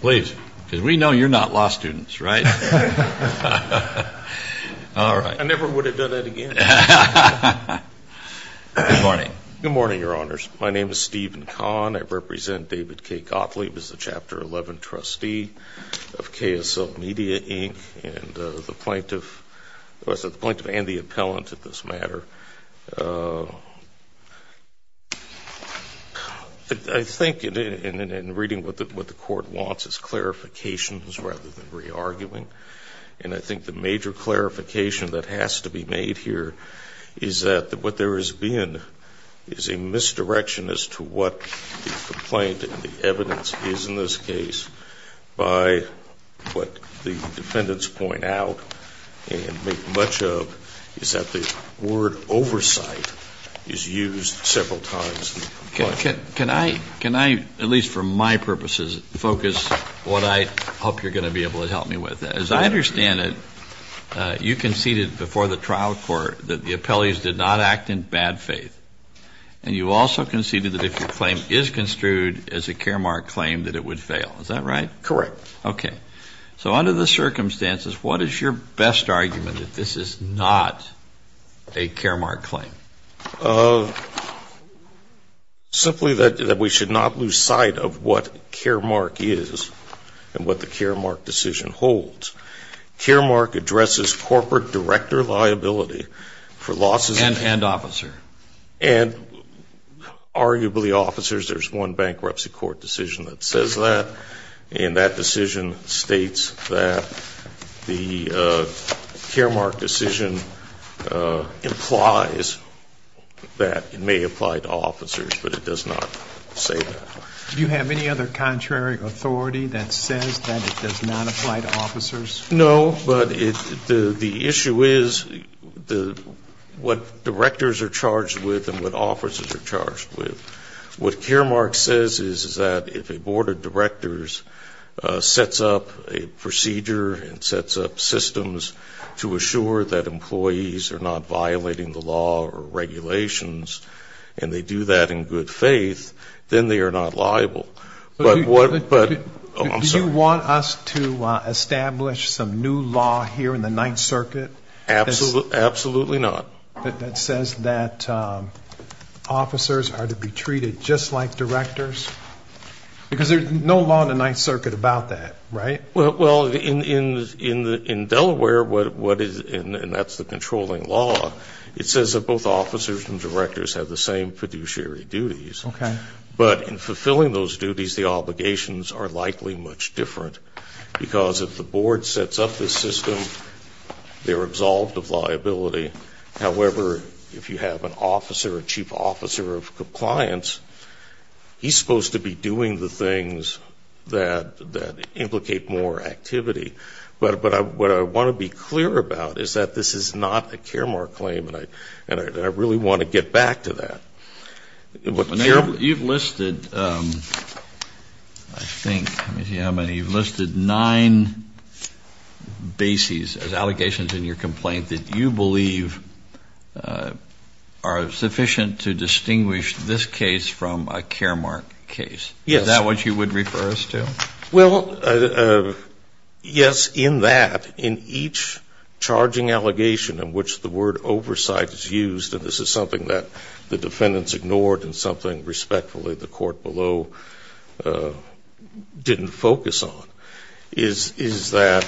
Please, because we know you're not law students, right? All right. I never would have done that again. Good morning. Good morning, Your Honors. My name is Stephen Kahn. I represent David K. Gottlieb as the Chapter 11 trustee of KSL Media Inc. and the plaintiff and the appellant in this matter. I think in reading what the Court wants is clarifications rather than re-arguing. And I think the major clarification that has to be made here is that what there has been is a misdirection as to what the complaint and the evidence is in this case by what the defendants point out and make much of is that the word oversight is used several times. Can I, at least for my purposes, focus what I hope you're going to be able to help me with? As I understand it, you conceded before the trial court that the appellees did not act in bad faith. And you also conceded that if your claim is construed as a care mark claim, that it would fail. Is that right? Correct. Okay. So under the circumstances, what is your best argument that this is not a care mark claim? Simply that we should not lose sight of what care mark is and what the care mark decision holds. Care mark addresses corporate director liability for losses in And arguably, officers, there's one bankruptcy court decision that says that. And that decision states that the care mark decision implies that it may apply to officers, but it does not say that. Do you have any other contrary authority that says that it does not apply to officers? No, but the issue is what directors are charged with and what officers are charged with. What care mark says is that if a board of directors sets up a procedure and sets up systems to assure that employees are not violating the law or regulations, and they do that in good faith, then they are not liable. Do you want us to establish some new law here in the Ninth Circuit? Absolutely not. That says that officers are to be treated just like directors? Because there's no law in the Ninth Circuit about that, right? Well, in Delaware, and that's the controlling law, it says that both officers and directors have the same fiduciary duties. Okay. But in fulfilling those duties, the obligations are likely much different. Because if the board sets up this system, they're absolved of liability. However, if you have an officer, a chief officer of compliance, he's supposed to be doing the things that implicate more activity. But what I want to be clear about is that this is not a care mark claim, and I really want to get back to that. You've listed, I think, let me see how many. You've listed nine bases as allegations in your complaint that you believe are sufficient to distinguish this case from a care mark case. Yes. Is that what you would refer us to? Well, yes, in that, in each charging allegation in which the word oversight is used, and this is something that the defendants ignored and something respectfully the court below didn't focus on, is that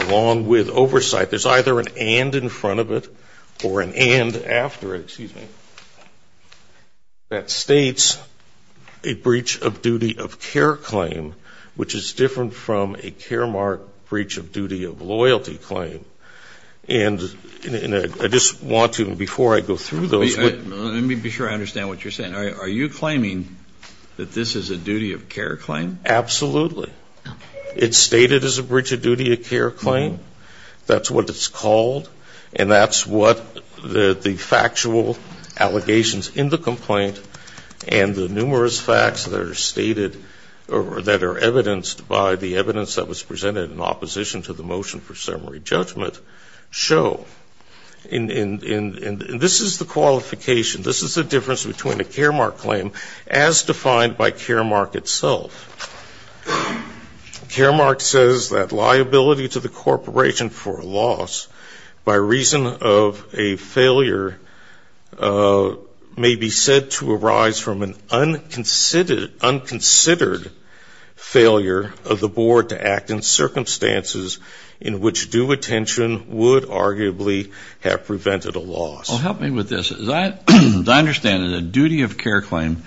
along with oversight, there's either an and in front of it or an and after it, excuse me, that states a breach of duty of care claim, which is different from a care mark breach of duty of loyalty claim. And I just want to, before I go through those. Let me be sure I understand what you're saying. Are you claiming that this is a duty of care claim? Absolutely. It's stated as a breach of duty of care claim. That's what it's called. And that's what the factual allegations in the complaint and the numerous facts that are stated or that are evidenced by the evidence that was presented in opposition to the motion for summary judgment show. And this is the qualification. This is the difference between a care mark claim as defined by care mark itself. Care mark says that liability to the corporation for loss by reason of a failure may be said to arise from an unconsidered failure of the board to act in circumstances in which due attention would arguably have prevented a loss. Well, help me with this. As I understand it, a duty of care claim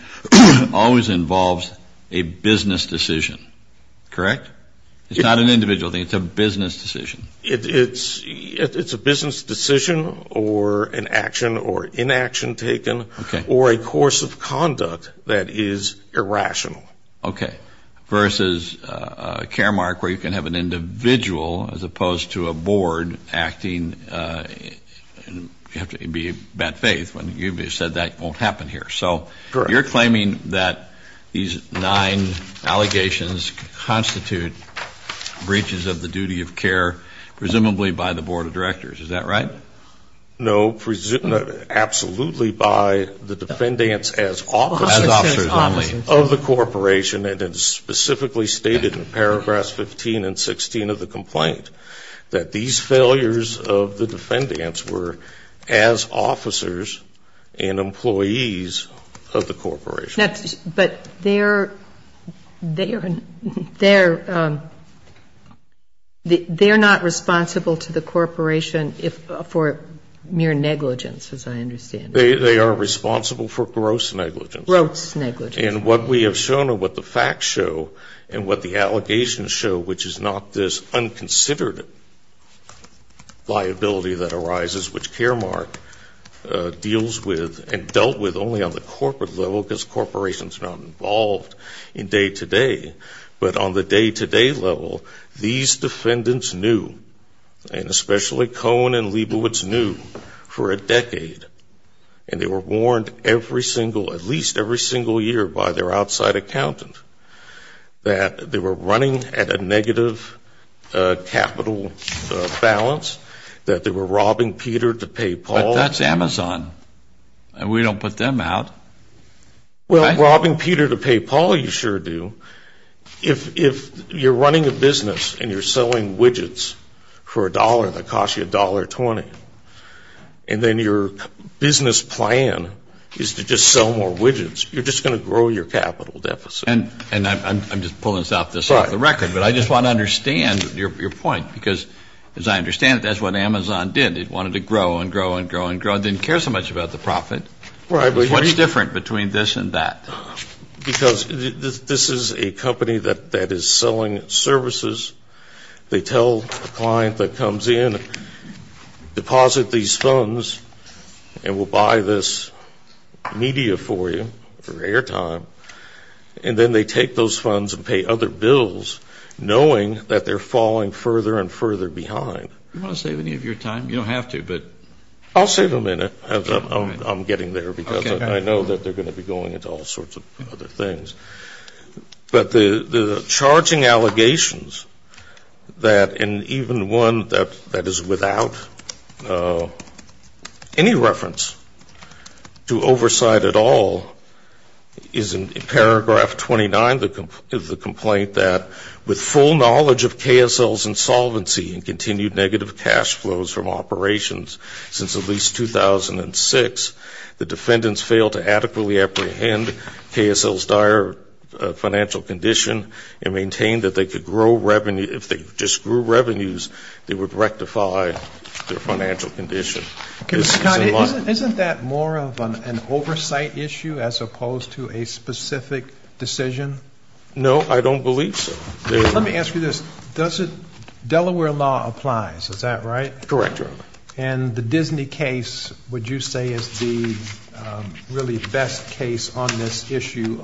always involves a business decision, correct? It's not an individual thing. It's a business decision. It's a business decision or an action or inaction taken or a course of conduct that is irrational. Okay. Versus a care mark where you can have an individual as opposed to a board acting. You have to be in bad faith when you've said that won't happen here. So you're claiming that these nine allegations constitute breaches of the duty of care, presumably by the board of directors. Is that right? No, absolutely by the defendants as officers of the corporation. And it's specifically stated in paragraphs 15 and 16 of the complaint that these failures of the defendants were as officers and employees of the corporation. But they're not responsible to the corporation for mere negligence, as I understand it. They are responsible for gross negligence. Gross negligence. And what we have shown or what the facts show and what the allegations show, which is not this unconsidered liability that arises, which Caremark deals with and dealt with only on the corporate level because corporations are not involved in day-to-day. But on the day-to-day level, these defendants knew, and especially Cohen and Leibowitz knew for a decade, and they were warned every single, at least every single year by their outside accountant, that they were running at a negative capital balance, that they were robbing Peter to pay Paul. But that's Amazon, and we don't put them out. Well, robbing Peter to pay Paul you sure do. If you're running a business and you're selling widgets for a dollar that cost you $1.20, and then your business plan is to just sell more widgets, you're just going to grow your capital deficit. And I'm just pulling this off the record. But I just want to understand your point because, as I understand it, that's what Amazon did. It wanted to grow and grow and grow and grow. It didn't care so much about the profit. What's different between this and that? Because this is a company that is selling services. They tell a client that comes in, deposit these funds, and we'll buy this media for you for airtime. And then they take those funds and pay other bills, knowing that they're falling further and further behind. Do you want to save any of your time? You don't have to, but. I'll save a minute. I'm getting there because I know that they're going to be going into all sorts of other things. But the charging allegations that, and even one that is without any reference to oversight at all, is in paragraph 29 of the complaint that, with full knowledge of KSL's insolvency and continued negative cash flows from operations since at least 2006, the defendants fail to adequately apprehend KSL's dire financial condition and maintain that they could grow revenue. If they just grew revenues, they would rectify their financial condition. Isn't that more of an oversight issue as opposed to a specific decision? No, I don't believe so. Let me ask you this. Delaware law applies, is that right? Correct, Your Honor. And the Disney case, would you say, is the really best case on this issue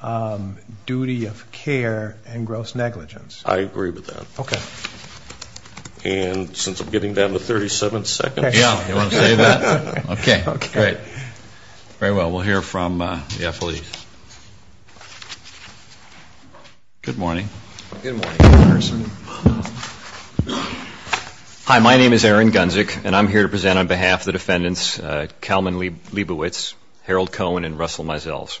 of duty of care and gross negligence? I agree with that. Okay. And since I'm getting down to 37 seconds. Yeah, you want to save that? Okay, great. Very well, we'll hear from the affiliates. Good morning. Good morning, Congressman. Hi, my name is Aaron Gunzick, and I'm here to present on behalf of the defendants, Kalman Leibovitz, Harold Cohen, and Russell Meisels.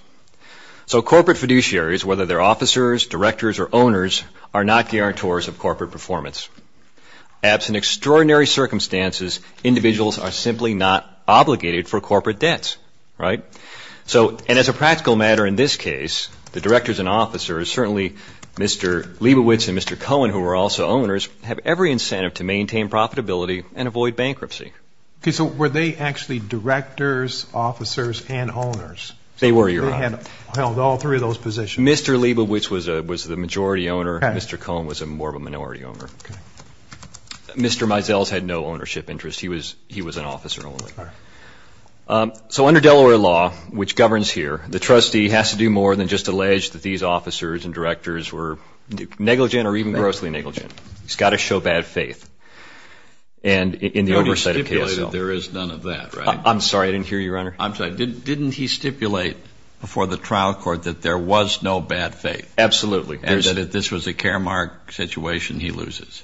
So corporate fiduciaries, whether they're officers, directors, or owners, are not guarantors of corporate performance. Absent extraordinary circumstances, individuals are simply not obligated for corporate debts, right? And as a practical matter in this case, the directors and officers, certainly Mr. Leibovitz and Mr. Cohen, who are also owners, have every incentive to maintain profitability and avoid bankruptcy. Okay, so were they actually directors, officers, and owners? They were, Your Honor. They held all three of those positions? Mr. Leibovitz was the majority owner. Mr. Cohen was more of a minority owner. Okay. Mr. Meisels had no ownership interest. He was an officer only. All right. So under Delaware law, which governs here, the trustee has to do more than just allege that these officers and directors were negligent or even grossly negligent. He's got to show bad faith. And in the oversight of KSL. No, you stipulated there is none of that, right? I'm sorry. I didn't hear you, Your Honor. I'm sorry. Didn't he stipulate before the trial court that there was no bad faith? Absolutely. And that if this was a caremarked situation, he loses.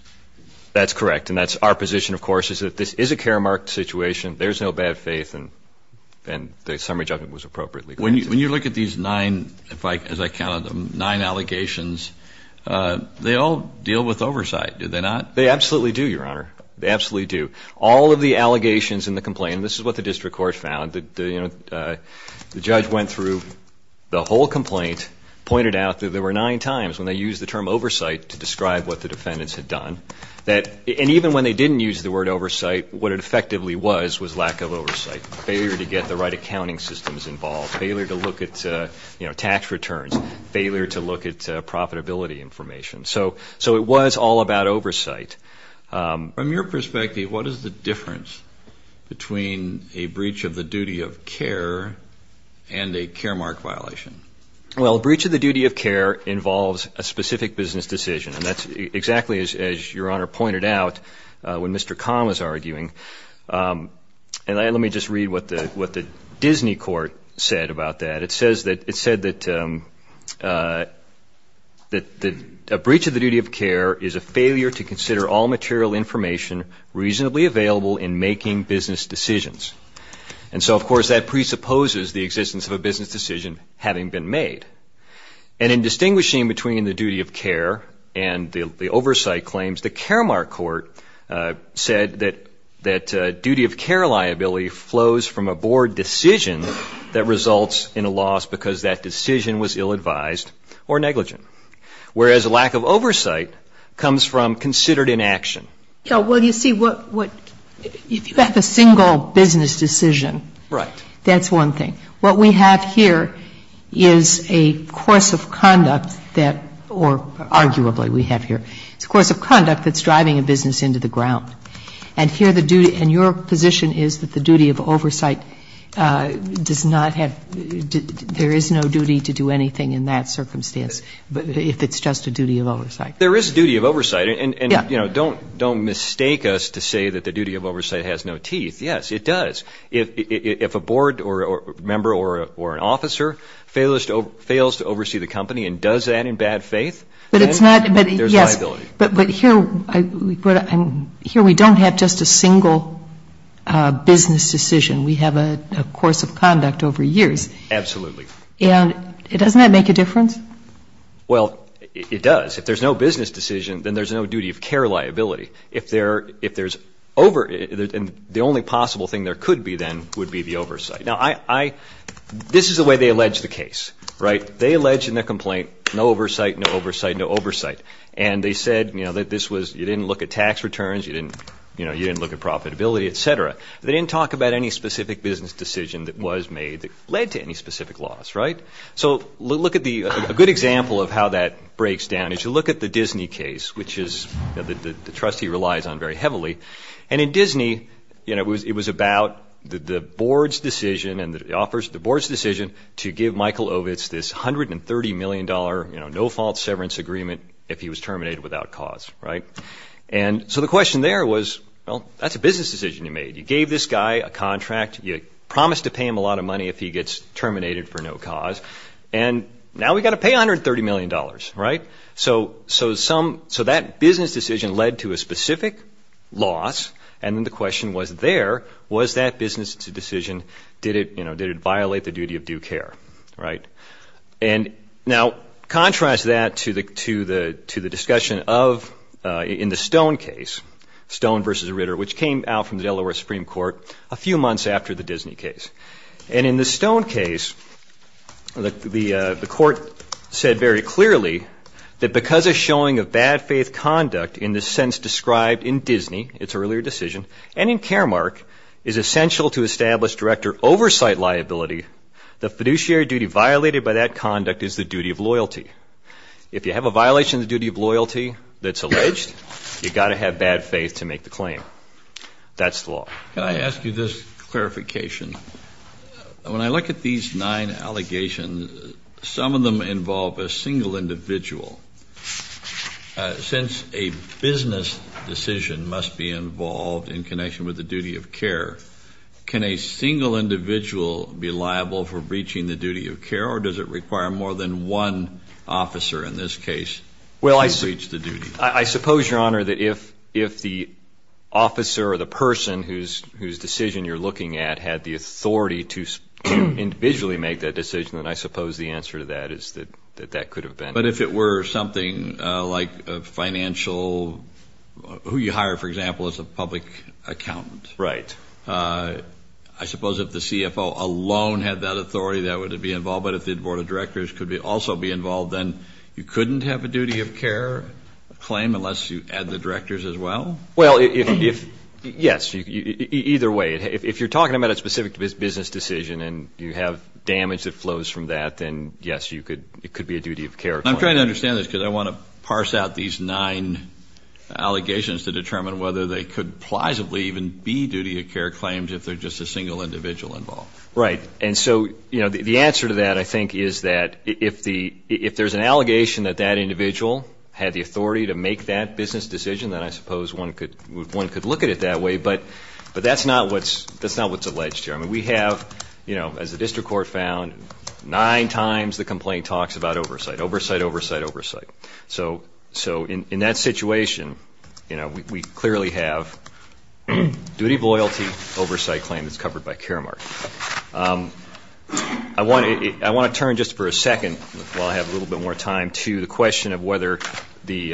That's correct. And that's our position, of course, is that this is a caremarked situation, there's no bad faith, and the summary judgment was appropriately granted. When you look at these nine, as I counted them, nine allegations, they all deal with oversight, do they not? They absolutely do, Your Honor. They absolutely do. All of the allegations in the complaint, and this is what the district court found, the judge went through the whole complaint, pointed out that there were nine times when they used the term oversight to describe what the defendants had done. And even when they didn't use the word oversight, what it effectively was was lack of oversight, failure to get the right accounting systems involved, failure to look at tax returns, failure to look at profitability information. So it was all about oversight. From your perspective, what is the difference between a breach of the duty of care and a caremark violation? Well, a breach of the duty of care involves a specific business decision, and that's exactly as Your Honor pointed out when Mr. Kahn was arguing. And let me just read what the Disney court said about that. It said that a breach of the duty of care is a failure to consider all material information reasonably available in making business decisions. And so, of course, that presupposes the existence of a business decision having been made. And in distinguishing between the duty of care and the oversight claims, the Caremark Court said that duty of care liability flows from a board decision that results in a loss because that decision was ill-advised or negligent, whereas a lack of oversight comes from considered inaction. Well, you see, if you have a single business decision, that's one thing. What we have here is a course of conduct that, or arguably we have here, is a course of conduct that's driving a business into the ground. And here the duty, and your position is that the duty of oversight does not have, there is no duty to do anything in that circumstance if it's just a duty of oversight. There is a duty of oversight. Yes. And, you know, don't mistake us to say that the duty of oversight has no teeth. Yes, it does. If a board member or an officer fails to oversee the company and does that in bad faith, then there's a liability. But it's not, yes, but here we don't have just a single business decision. We have a course of conduct over years. Absolutely. And doesn't that make a difference? Well, it does. If there's no business decision, then there's no duty of care liability. If there's over, the only possible thing there could be then would be the oversight. Now, I, this is the way they allege the case, right? They allege in their complaint no oversight, no oversight, no oversight. And they said, you know, that this was, you didn't look at tax returns, you didn't, you know, you didn't look at profitability, et cetera. They didn't talk about any specific business decision that was made that led to any specific loss, right? So look at the, a good example of how that breaks down is you look at the Disney case, which is the trustee relies on very heavily. And in Disney, you know, it was about the board's decision and it offers the board's decision to give Michael Ovitz this $130 million, you know, no-fault severance agreement if he was terminated without cause, right? And so the question there was, well, that's a business decision you made. You gave this guy a contract. You promised to pay him a lot of money if he gets terminated for no cause. And now we've got to pay $130 million, right? So some, so that business decision led to a specific loss. And then the question was there, was that business decision, did it, you know, did it violate the duty of due care, right? And now contrast that to the discussion of, in the Stone case, Stone versus Ritter, which came out from the Delaware Supreme Court a few months after the Disney case. And in the Stone case, the court said very clearly that because a showing of bad faith conduct in the sense described in Disney, its earlier decision, and in Caremark is essential to establish director oversight liability, the fiduciary duty violated by that conduct is the duty of loyalty. If you have a violation of the duty of loyalty that's alleged, you've got to have bad faith to make the claim. That's the law. Can I ask you this clarification? When I look at these nine allegations, some of them involve a single individual. Since a business decision must be involved in connection with the duty of care, can a single individual be liable for breaching the duty of care, or does it require more than one officer in this case to breach the duty? Well, I suppose, Your Honor, that if the officer or the person whose decision you're looking at had the authority to individually make that decision, then I suppose the answer to that is that that could have been. But if it were something like a financial, who you hire, for example, as a public accountant. Right. I suppose if the CFO alone had that authority, that would be involved. But if the board of directors could also be involved, then you couldn't have a duty of care claim unless you add the directors as well? Well, yes, either way. If you're talking about a specific business decision and you have damage that flows from that, then, yes, it could be a duty of care claim. I'm trying to understand this because I want to parse out these nine allegations to determine whether they could plausibly even be duty of care claims if there's just a single individual involved. And so the answer to that, I think, is that if there's an allegation that that individual had the authority to make that business decision, then I suppose one could look at it that way. But that's not what's alleged here. I mean, we have, as the district court found, nine times the complaint talks about oversight. Oversight, oversight, oversight. So in that situation, we clearly have a duty of loyalty oversight claim that's covered by Caremark. I want to turn just for a second, while I have a little bit more time, to the question of whether the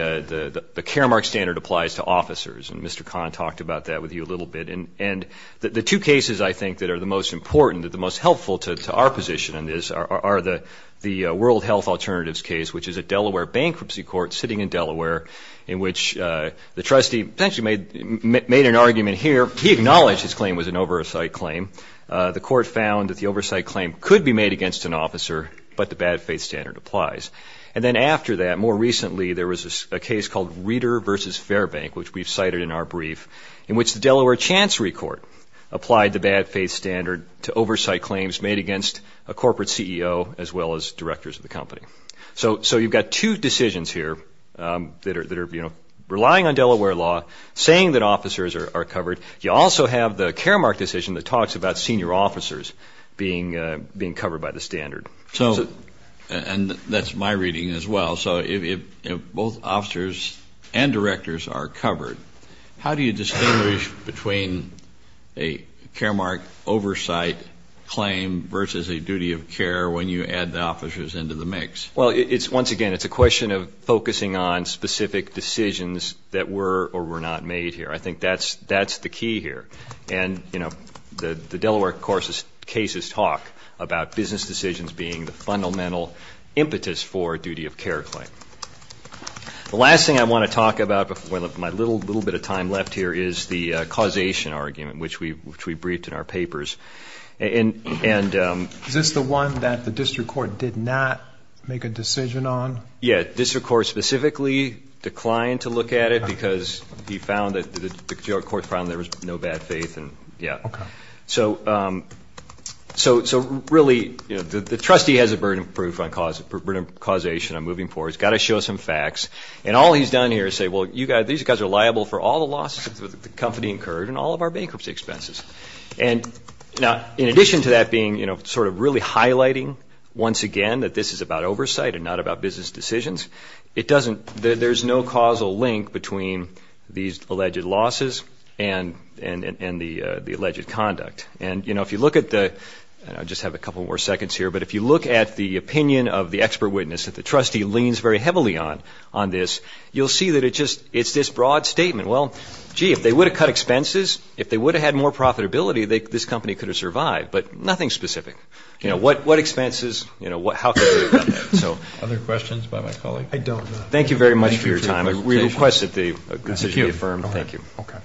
Caremark standard applies to officers. And Mr. Kahn talked about that with you a little bit. And the two cases, I think, that are the most important, that are the most helpful to our position in this are the World Health Alternatives case, which is a Delaware bankruptcy court sitting in Delaware, in which the trustee essentially made an argument here. He acknowledged his claim was an oversight claim. The court found that the oversight claim could be made against an officer, but the bad faith standard applies. And then after that, more recently, there was a case called Reeder v. Fairbank, which we've cited in our brief, in which the Delaware Chancery Court applied the bad faith standard to oversight claims made against a corporate CEO as well as directors of the company. So you've got two decisions here that are, you know, relying on Delaware law, saying that officers are covered. You also have the Caremark decision that talks about senior officers being covered by the standard. And that's my reading as well. So if both officers and directors are covered, how do you distinguish between a Caremark oversight claim versus a duty of care when you add the officers into the mix? Well, once again, it's a question of focusing on specific decisions that were or were not made here. I think that's the key here. And, you know, the Delaware cases talk about business decisions being the fundamental impetus for a duty of care claim. The last thing I want to talk about before my little bit of time left here is the causation argument, which we briefed in our papers. Is this the one that the district court did not make a decision on? Yeah, district court specifically declined to look at it because he found that the court found there was no bad faith and, yeah. Okay. So really, you know, the trustee has a burden of proof on causation. I'm moving forward. He's got to show some facts. And all he's done here is say, well, you guys, these guys are liable for all the losses that the company incurred and all of our bankruptcy expenses. And now, in addition to that being, you know, sort of really highlighting once again that this is about oversight and not about business decisions, it doesn't – there's no causal link between these alleged losses and the alleged conduct. And, you know, if you look at the – and I'll just have a couple more seconds here. But if you look at the opinion of the expert witness that the trustee leans very heavily on on this, you'll see that it just – it's this broad statement. Well, gee, if they would have cut expenses, if they would have had more profitability, this company could have survived. But nothing specific. You know, what expenses, you know, how could they have done that? Other questions by my colleague? I don't know. Thank you very much for your time. We request that they be affirmed. Thank you. Okay.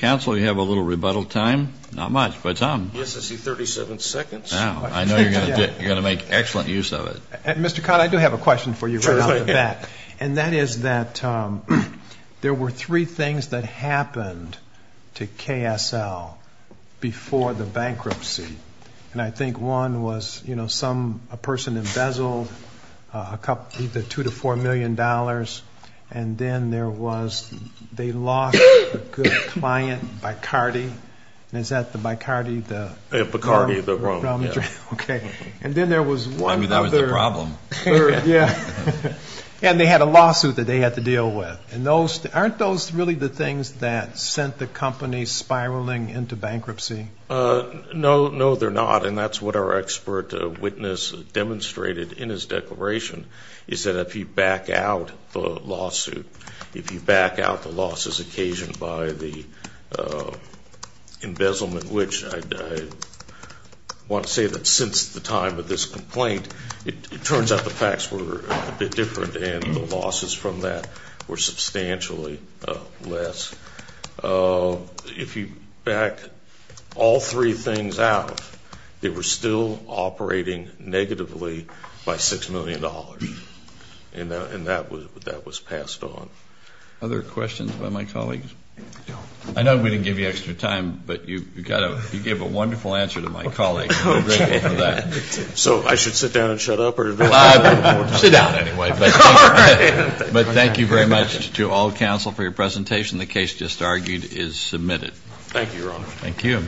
Counsel, you have a little rebuttal time. Not much, but some. Yes, I see 37 seconds. I know you're going to make excellent use of it. Mr. Codd, I do have a question for you right off the bat. And that is that there were three things that happened to KSL before the bankruptcy. And I think one was, you know, a person embezzled either $2 million to $4 million. And then there was they lost a good client, Bacardi. And is that the Bacardi? Bacardi, the Rome. Okay. And then there was one other. I mean, that was the problem. Yeah. And they had a lawsuit that they had to deal with. And aren't those really the things that sent the company spiraling into bankruptcy? No, they're not. And that's what our expert witness demonstrated in his declaration, is that if you back out the lawsuit, if you back out the losses occasioned by the embezzlement, which I want to say that since the time of this complaint, it turns out the facts were a bit different and the losses from that were substantially less. If you back all three things out, they were still operating negatively by $6 million. And that was passed on. Other questions by my colleagues? I know we didn't give you extra time, but you gave a wonderful answer to my colleague. So I should sit down and shut up? Well, sit down anyway. But thank you very much to all counsel for your presentation. The case just argued is submitted. Thank you, Your Honor. Thank you.